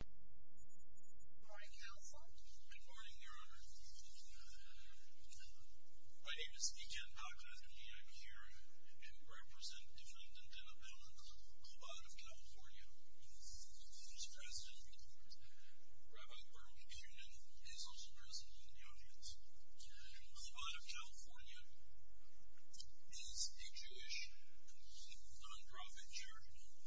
Good morning, Counsel. Good morning, Your Honor. My name is E. Ken Paxman, and I am here to represent Defendant Dana Bell in Chabad of California, whose President, Rabbi Bertolt Kuhnen, is also present in the audience. Chabad of California is a Jewish non-profit charitable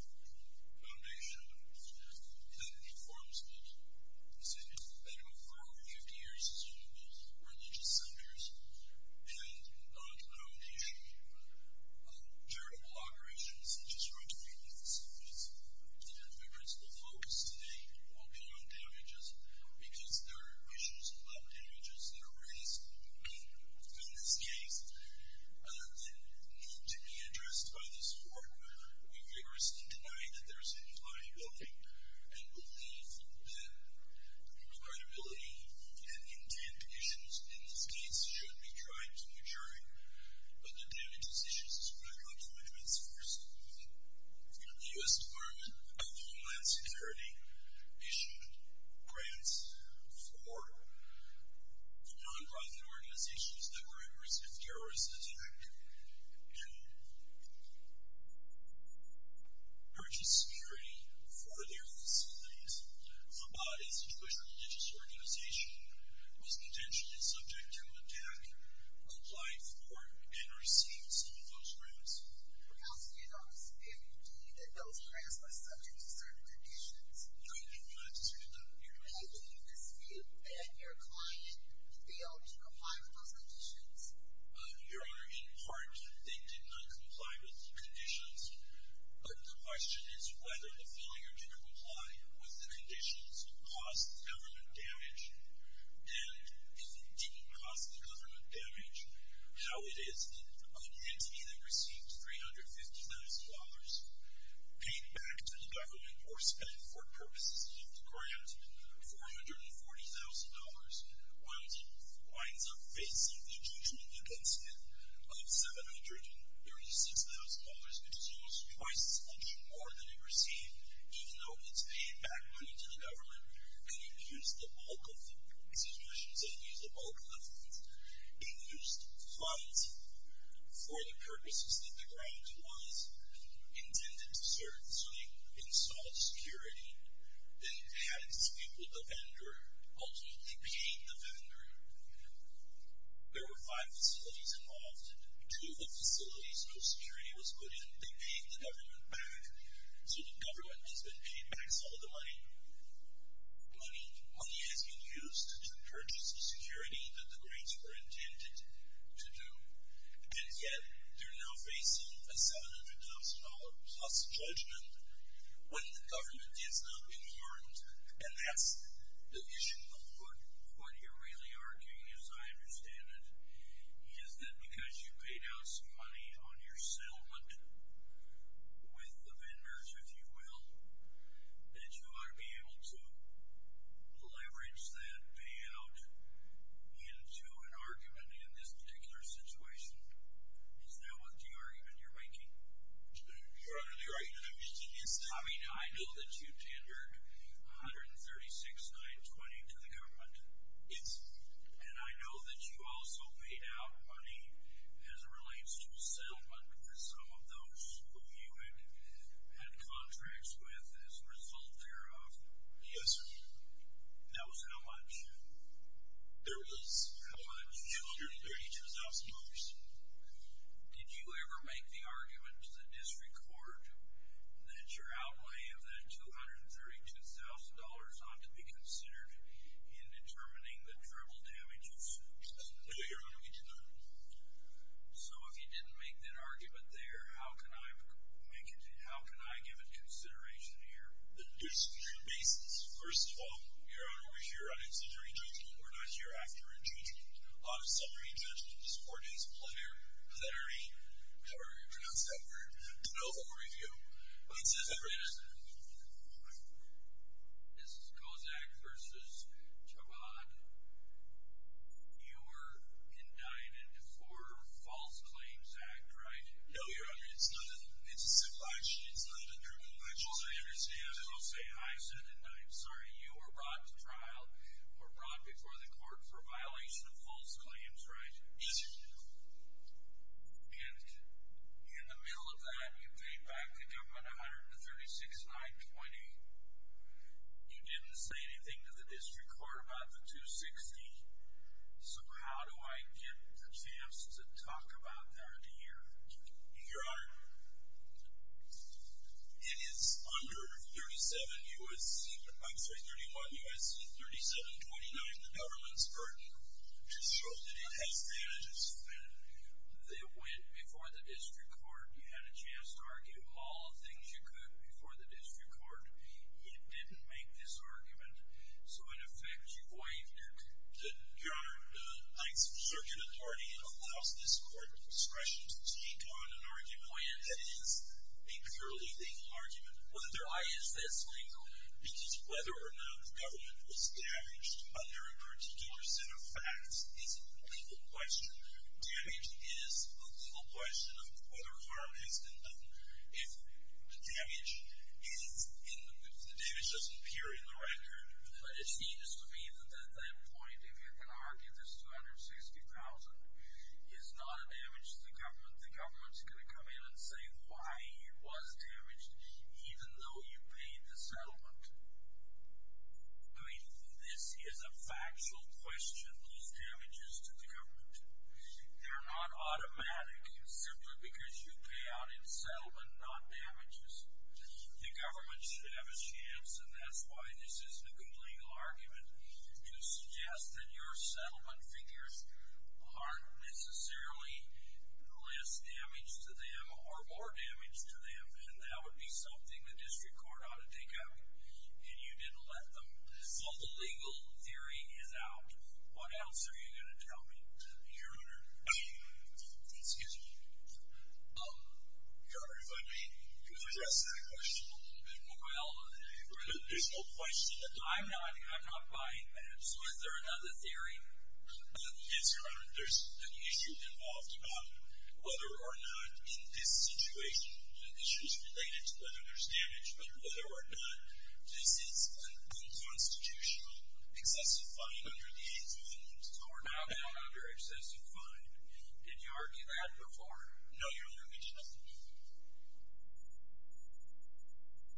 foundation that informs people. It's been going for over 50 years as one of the religious centers, and on the foundation of charitable operations, such as rugby leagues, and my principal focus today will be on damages, because there are issues about damages that are raised in this case that need to be addressed by this Court. We vigorously deny that there is any liability, and believe that the credibility and intent issues in this case should be tried to a jury, but the damages issues are not the minimum source. The U.S. Department of Homeland Security issued grants for non-profit organizations that were at risk of terrorist attack to purchase security for their facilities. Chabad is a Jewish religious organization that was potentially subject to attack, applied for, and received some of those grants. Counsel, you don't dispute that those grants were subject to certain conditions? I do not dispute that. You don't dispute that your client failed to comply with those conditions? Your Honor, in part, they did not comply with the conditions, but the question is whether the failure to comply with the conditions caused the government damage, and if it didn't cause the government damage, how it is that an entity that received $350,000 paid back to the government, or spent for purposes of the grant, $440,000, winds up facing the judgment against it of $736,000, which is almost twice as much more than it received, even though it's paid back money to the government, and it used the bulk of the, excuse me, I shouldn't say it used the bulk of the funds, it used funds for the purposes that the grant was intended to serve, so they installed security, then had it disabled the vendor, ultimately paid the vendor. There were five facilities involved. Two of the facilities, no security was put in. They paid the government back, so the government has been paid back some of the money. Money has been used to purchase the security that the grants were intended to do, and yet they're now facing a $700,000 plus judgment when the government is not informed, and that's the issue. What you're really arguing, as I understand it, is that because you paid out some money on your settlement with the vendors, if you will, that you ought to be able to leverage that payout into an argument in this particular situation. Is that what the argument you're making? You're utterly right. I mean, I know that you tendered $136,920 to the government, and I know that you also paid out money as it relates to a settlement with some of those who you had contracts with as a result thereof. Yes, sir. That was how much? There was $232,000. Did you ever make the argument to the district court that your outlay of that $232,000 ought to be considered in determining the terrible damage of the settlement? No, Your Honor, we did not. So if you didn't make that argument there, how can I give it consideration here? There's two bases. First of all, Your Honor, we're here on incendiary judgment. We're not here after intriguing. On summary judgment, this court is plenary. However you pronounce that word. De novo review. This is Kozak v. Chabad. You were indicted for false claims act, right? No, Your Honor, it's a civil action. It's not a criminal action. I understand. I'm sorry. You were brought to trial or brought before the court for violation of false claims, right? Yes, sir. And in the middle of that, you paid back the government $136,920. You didn't say anything to the district court about the $260,000. So how do I get the chance to talk about that here? Your Honor, it is under 37 U.S., I'm sorry, 31 U.S., 3729, the government's burden. I'm sure that it has advantages. They went before the district court. You had a chance to argue all the things you could before the district court. You didn't make this argument. So in effect, you waived it. Your Honor, thanks to the circuit authority, it allows this court discretion to take on an argument. When? It is a purely legal argument. Why is this legal? Because whether or not the government was damaged under a particular set of facts is a legal question. Damage is a legal question of whether harm has been done. If the damage is, if the damage doesn't appear in the record. But it seems to me that at that point, if you can argue this $260,000 is not a damage to the government, the government's going to come in and say why it was damaged, even though you paid the settlement. I mean, this is a factual question, these damages to the government. They're not automatic, simply because you pay out in settlement, not damages. The government should have a chance, and that's why this isn't a good legal argument, to suggest that your settlement figures aren't necessarily less damage to them or more damage to them. And that would be something the district court ought to take up. And you didn't let them. So the legal theory is out. What else are you going to tell me, Your Honor? Excuse me. Your Honor, if I may, you've addressed that question a little bit. Well, there's no question that I'm not. I'm not buying that. So is there another theory? Yes, Your Honor. There's an issue involved about whether or not in this situation, issues related to whether there's damage, whether or not this is an unconstitutional excessive fine under the 8th Amendment. So we're now down under excessive fine. Did you argue that before? No, Your Honor, we did not.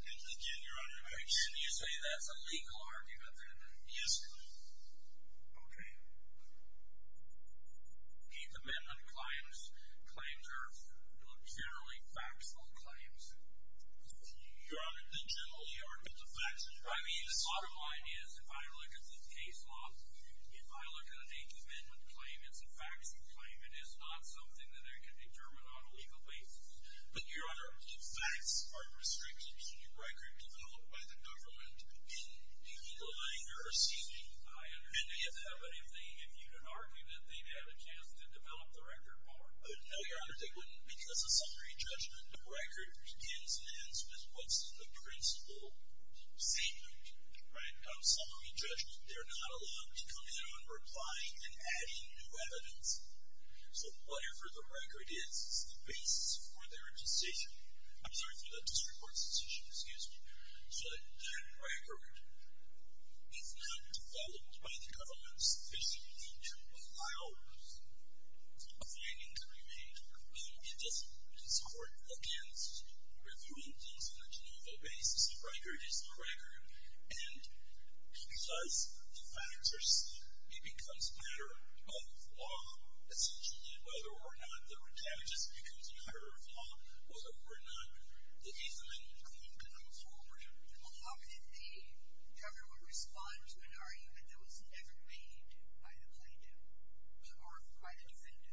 And again, Your Honor. And you say that's a legal argument, then? Yes, Your Honor. Okay. 8th Amendment claims are generally faxable claims. Your Honor, they generally are not faxable. I mean, the bottom line is, if I look at this case law, if I look at an 8th Amendment claim, it's a faxable claim. It is not something that I can determine on a legal basis. But, Your Honor, if fax aren't restricted, can you record developed by the government in the legal language? I understand they have to have an 8th Amendment. If you can argue that they've had a chance to develop the record more. No, Your Honor, they wouldn't because of summary judgment. The record begins and ends with what's the principle statement, right? Summary judgment. They're not allowed to come in on replying and adding new evidence. So, whatever the record is, it's the basis for their decision. I'm sorry for that, district court's decision, excuse me. So, that record is not developed by the government sufficiently to allow a finding to remain. It doesn't support against reviewing things on a general basis. The record is the record. And because faxers, it becomes a matter of law, essentially. Whether or not the record damages becomes a matter of law, whether or not the 8th Amendment claim comes forward. Well, how could the government respond to an argument that was never made by the plaintiff or by the defendant?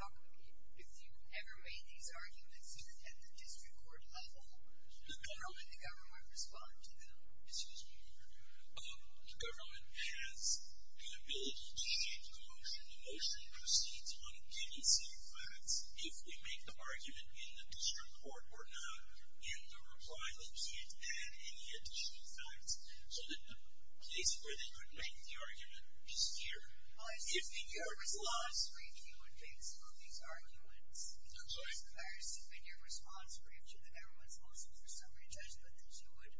How could, if you ever made these arguments at the district court level, how would the government respond to them? Excuse me, Your Honor. The government has the ability to change the motion. The motion proceeds on giving some facts. If we make the argument in the district court or not, in the reply, they can't add any additional facts. So, the place where they could make the argument is here. If in your response brief, you would make some of these arguments. I'm sorry? If in your response brief to the government's motion for summary judgment, that you would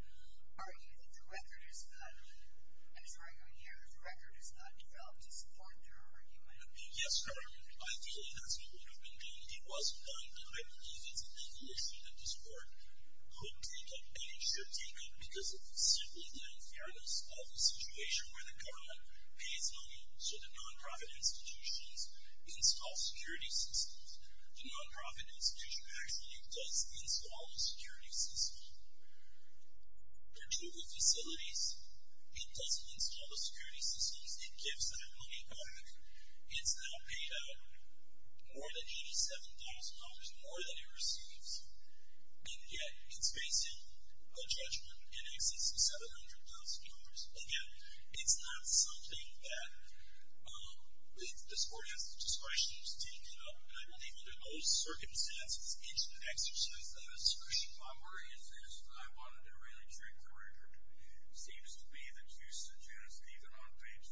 argue that the record is valid. And it's arguing here that the record is not developed to support their argument. Yes, Your Honor. Ideally, that's what would have been done. It wasn't done, but I believe it's a legal issue that this court could take up and it should take up. Because it's simply the unfairness of the situation where the government pays money so the non-profit institutions install security systems. The non-profit institution actually does install the security system. For two of the facilities, it doesn't install the security systems. It gives that money back. It's now paid out more than $87,000, more than it receives. And yet, it's facing a judgment in excess of $700,000. Again, it's not something that this court has the discretion to take up. And I believe under those circumstances, it should exercise that discretion. My worry is this. I wanted to really trick the record. It seems to me that you suggest, even on page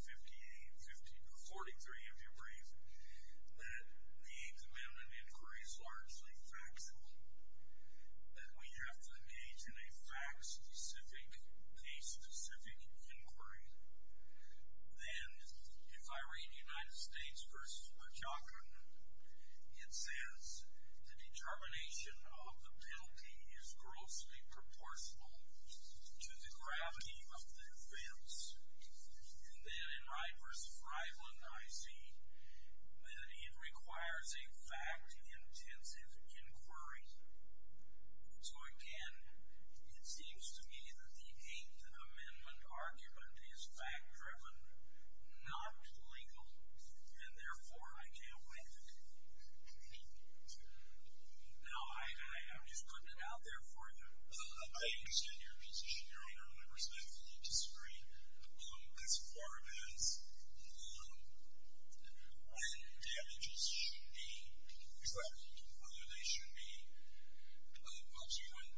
58, or 43 of your brief, that the Eighth Amendment inquiry is largely factual. That we have to engage in a fact-specific, case-specific inquiry. Then, if I read United States v. McLaughlin, it says, The determination of the penalty is grossly proportional to the gravity of the offense. And then in Wright v. Reitland, I see that it requires a fact-intensive inquiry. So again, it seems to me that the Eighth Amendment argument is fact-driven, not legal. And therefore, I can't wait. Now, I'm just putting it out there for you. I understand your position, Your Honor. And I respectfully disagree. As far as when damages should be traveled. Whether they should be, well, when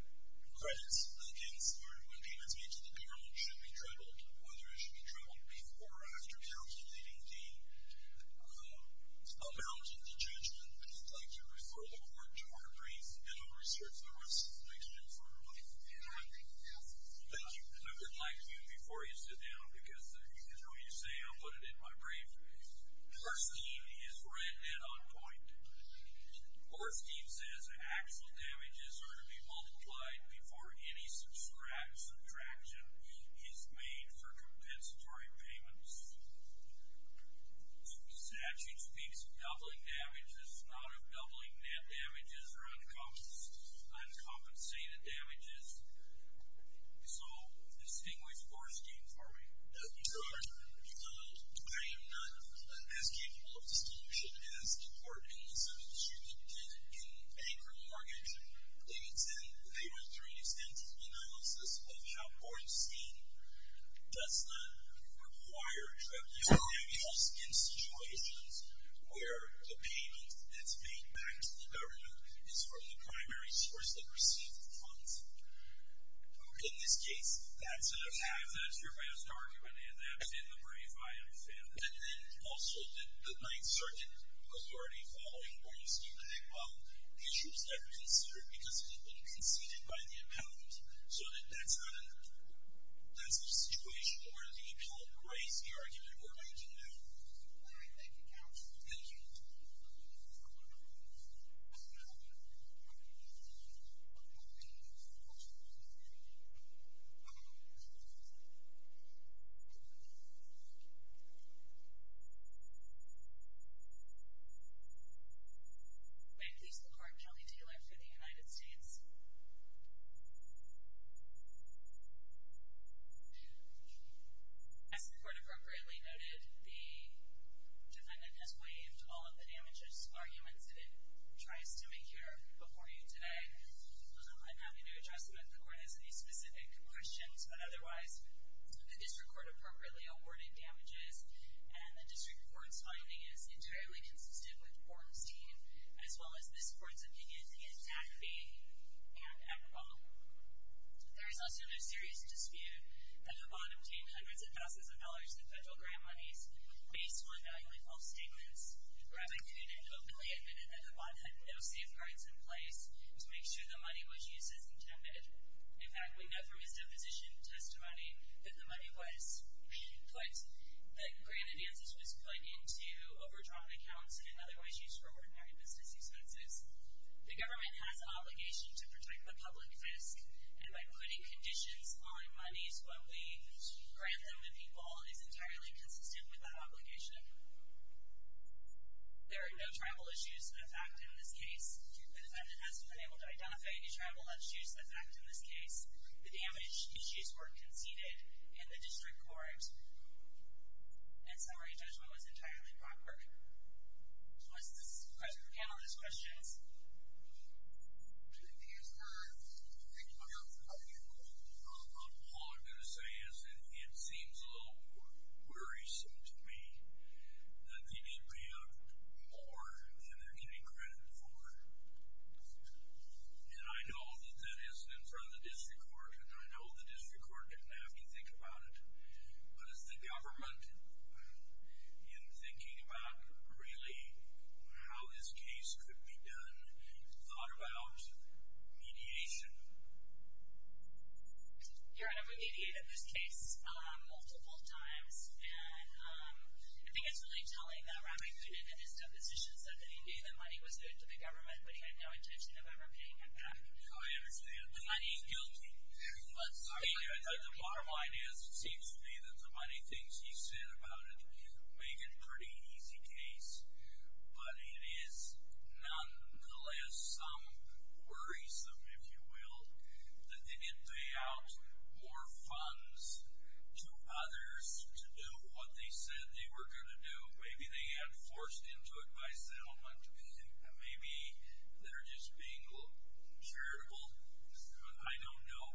credits against, or when payments made to the parole should be traveled. Whether it should be traveled before or after counting, leaving the amount in the judgment. I'd like to refer the court to our brief, and I'll research the rest of the briefing further on. Thank you. And I would like you, before you sit down, because I know you say, I'll put it in my brief. Orstein is red and on point. Orstein says, actual damages are to be multiplied before any subtraction is made for compensatory payments. The statute speaks of doubling damages, not of doubling damages or uncompensated damages. So, distinguish Orstein for me. Your Honor, I am not as capable of distinguishing as the court in the sentence you did in Anchor Mortgage. They went through an extensive analysis of how Orstein does not require tribunals in situations where the payment that's made back to the government is from the primary source that received the funds. In this case, that's an attack. That's your best argument, and that's in the brief, I am offended. And then, also, the Ninth Circuit authority following Ornstein, the issue was never considered because it had been conceded by the appellant. So, that's a situation where the appellant erased the argument we're making now. Thank you, counsel. Thank you. May it please the court, Kelly Taylor for the United States. As the court appropriately noted, the defendant has waived all of the damages arguments that it tries to make here before you today. I'm happy to address them if the court has any specific questions. But, otherwise, the district court appropriately awarded damages, and the district court's finding is entirely consistent with Ornstein, as well as this court's opinion against Zafi and Eberbohm. There is also no serious dispute that Eberbohm obtained hundreds of thousands of dollars in federal grant monies, based on valuable false statements. Rabbi Kuhn had openly admitted that Eberbohm had no safeguards in place to make sure the money was used as intended. In fact, we know from his deposition testimony that the money was put, that grant advances was put into overdrawn accounts and otherwise used for ordinary business expenses. The government has an obligation to protect the public risk, and by putting conditions on monies when we grant them to people is entirely consistent with that obligation. There are no travel issues in effect in this case. The defendant has not been able to identify any travel issues in effect in this case. The damage issues were conceded in the district court. In summary, judgment was entirely proper. Does this answer the panelist's questions? Do you have anything else to add? All I'm going to say is that it seems a little more worrisome to me that they did pay up more than they're getting credit for. And I know that that isn't in front of the district court, and I know the district court didn't have to think about it. But has the government, in thinking about really how this case could be done, thought about mediation? Your Honor, we mediated this case multiple times, and I think it's really telling that Rabbi Thunen in his deposition said that indeed the money was put into the government, but he had no intention of ever paying it back. I understand. The money is guilty. The bottom line is, it seems to me that the money things he said about it make it a pretty easy case. But it is nonetheless some worrisome, if you will, that they didn't pay out more funds to others to do what they said they were going to do. Maybe they had forced into it by settlement. Maybe they're just being charitable. I don't know.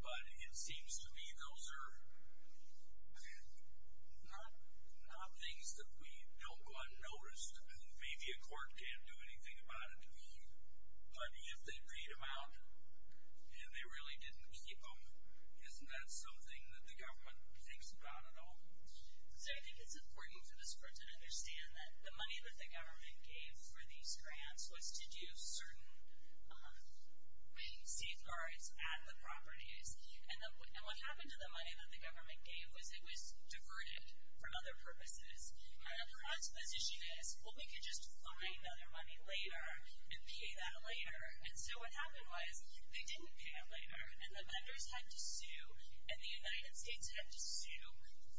But it seems to me those are not things that we don't go unnoticed. Maybe a court can't do anything about it. But if they paid them out and they really didn't keep them, isn't that something that the government thinks about at all? So I think it's important for this court to understand that the money that the government gave for these grants was to do certain safeguards at the properties. And what happened to the money that the government gave was it was diverted from other purposes. And the court's position is, well, we could just find other money later and pay that later. And so what happened was they didn't pay it later. And the lenders had to sue. And the United States had to sue.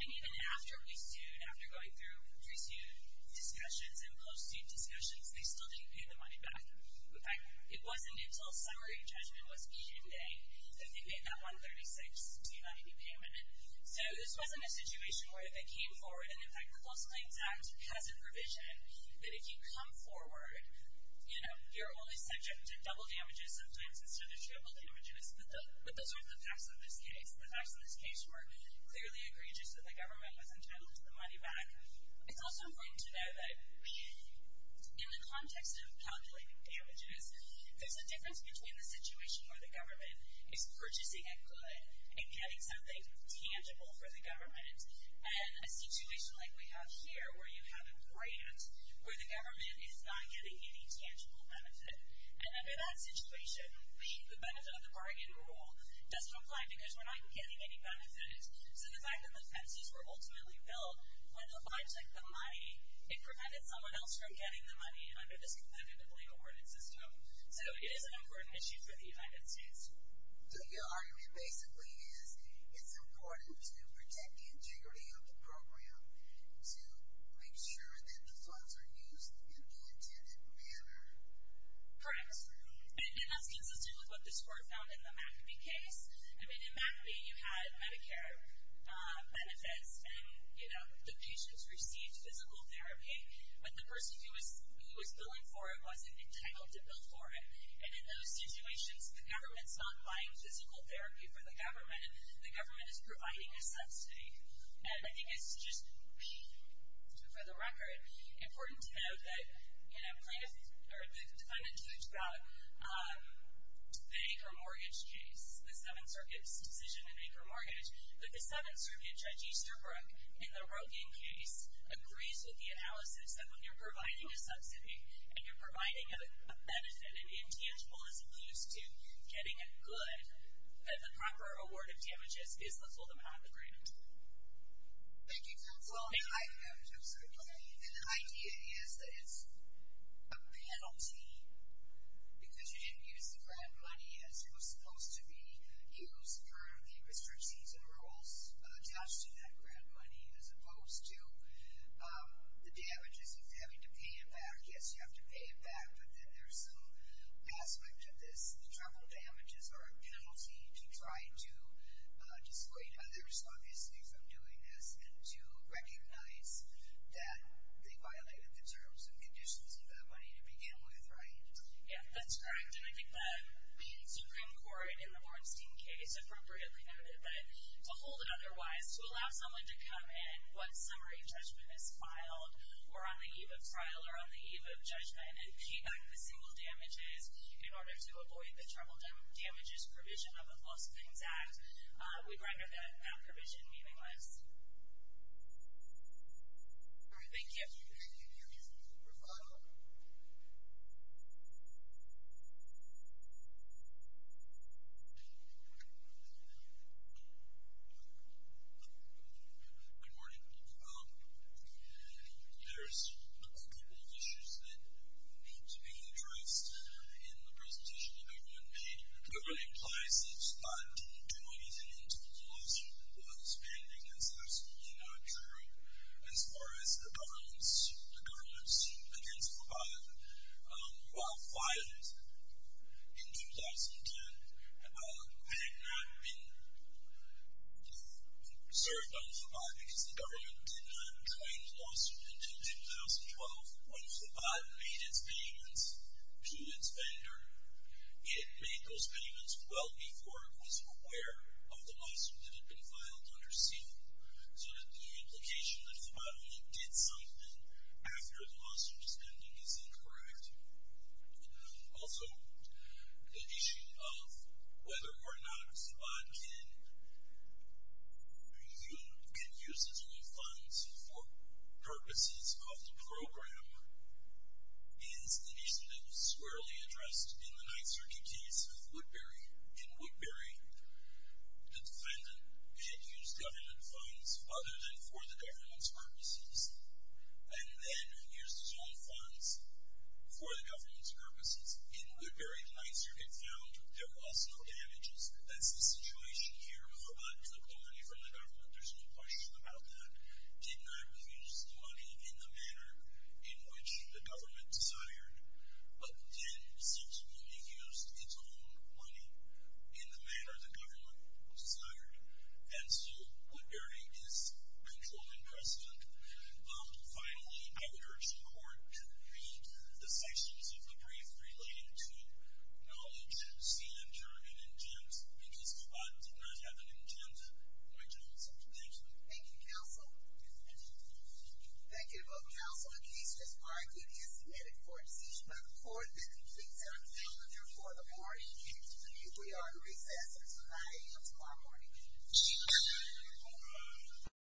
And even after we sued, after going through pre-suit discussions and post-suit discussions, they still didn't pay the money back. In fact, it wasn't until summary judgment was eaten today that they made that $136,290 payment. So this wasn't a situation where they came forward. And in fact, the Close Claims Act has a provision that if you come forward, you're only subject to double damages sometimes instead of triple damages. But those weren't the facts of this case. The facts of this case were clearly egregious that the government was entitled to the money back. It's also important to know that in the context of calculating damages, there's a difference between the situation where the government is purchasing a good and getting something tangible for the government and a situation like we have here where you have a grant where the government is not getting any tangible benefit. And under that situation, the benefit of the bargain rule doesn't apply because we're not getting any benefit. So the fact that the fences were ultimately built on the object of money, it prevented someone else from getting the money under this competitively awarded system. So it is an important issue for the United States. So your argument basically is it's important to protect the integrity of the program to make sure that the funds are used in the intended manner. Correct. And that's consistent with what this court found in the McAbee case. I mean, in McAbee, you had Medicare benefits, and the patients received physical therapy, but the person who was billing for it wasn't entitled to bill for it. And in those situations, the government's not buying physical therapy for the government. The government is providing a subsidy. And I think it's just, for the record, important to note that the defendant talked about the acre mortgage case, the Seventh Circuit's decision in acre mortgage. But the Seventh Circuit Judge Easterbrook, in the Rogan case, agrees with the analysis that when you're providing a subsidy, and you're providing a benefit, an intangible as opposed to getting a good, that the proper award of damages is the full amount of the grant. Thank you, counsel. Well, I agree. And the idea is that it's a penalty because you didn't use the grant money as it was supposed to be used for the restrictions and rules attached to that grant money, as opposed to the damages of having to pay it back. Yes, you have to pay it back, but then there's some aspect of this. The travel damages are a penalty to try to discredit others, obviously, from doing this, and to recognize that they violated the terms and conditions of that money to begin with, right? Yeah, that's correct. And I think that being Supreme Court, in the Ornstein case, appropriately noted. But to hold it otherwise, to allow someone to come in once summary judgment is filed, or on the eve of trial, or on the eve of judgment, and pay back the single damages in order to avoid the travel damages provision of the Lost Things Act, we'd render that provision meaningless. All right. Thank you. Thank you. Good morning. There's a couple of issues that need to be addressed in the presentation that everyone made. Number one implies that Scott didn't do anything into the laws he was pending. That's absolutely not true. As far as the government's suit against Fabat, while filed in 2010, it had not been served on Fabat because the government did not claim the lawsuit until 2012, when Fabat made its payments to its vendor. It made those payments well before it was aware of the lawsuit that had been filed under seal, so that the implication that Fabat only did something after the lawsuit was pending is incorrect. Also, the issue of whether or not Fabat can use his own funds for purposes of the program is an issue that was squarely addressed in the Ninth Circuit case of Woodbury. In Woodbury, the defendant had used government funds other than for the government's purposes, and then used his own funds for the government's purposes. In Woodbury, the Ninth Circuit found there was no damages. That's the situation here with Fabat took the money from the government. There's no question about that. Did not use the money in the manner in which the government desired, but then subsequently used its own money in the manner the government desired, and so Woodbury is controlled in precedent. Finally, I urge the court to read the sections of the brief relating to knowledge, seal and term, and intents, because Fabat did not have an intent of going to the lawsuit. Thank you. Thank you, counsel. Thank you both, counsel. In case this argument is submitted for a decision by the court, then please have a calendar for the morning. We are in recess until 9 a.m. tomorrow morning. Thank you.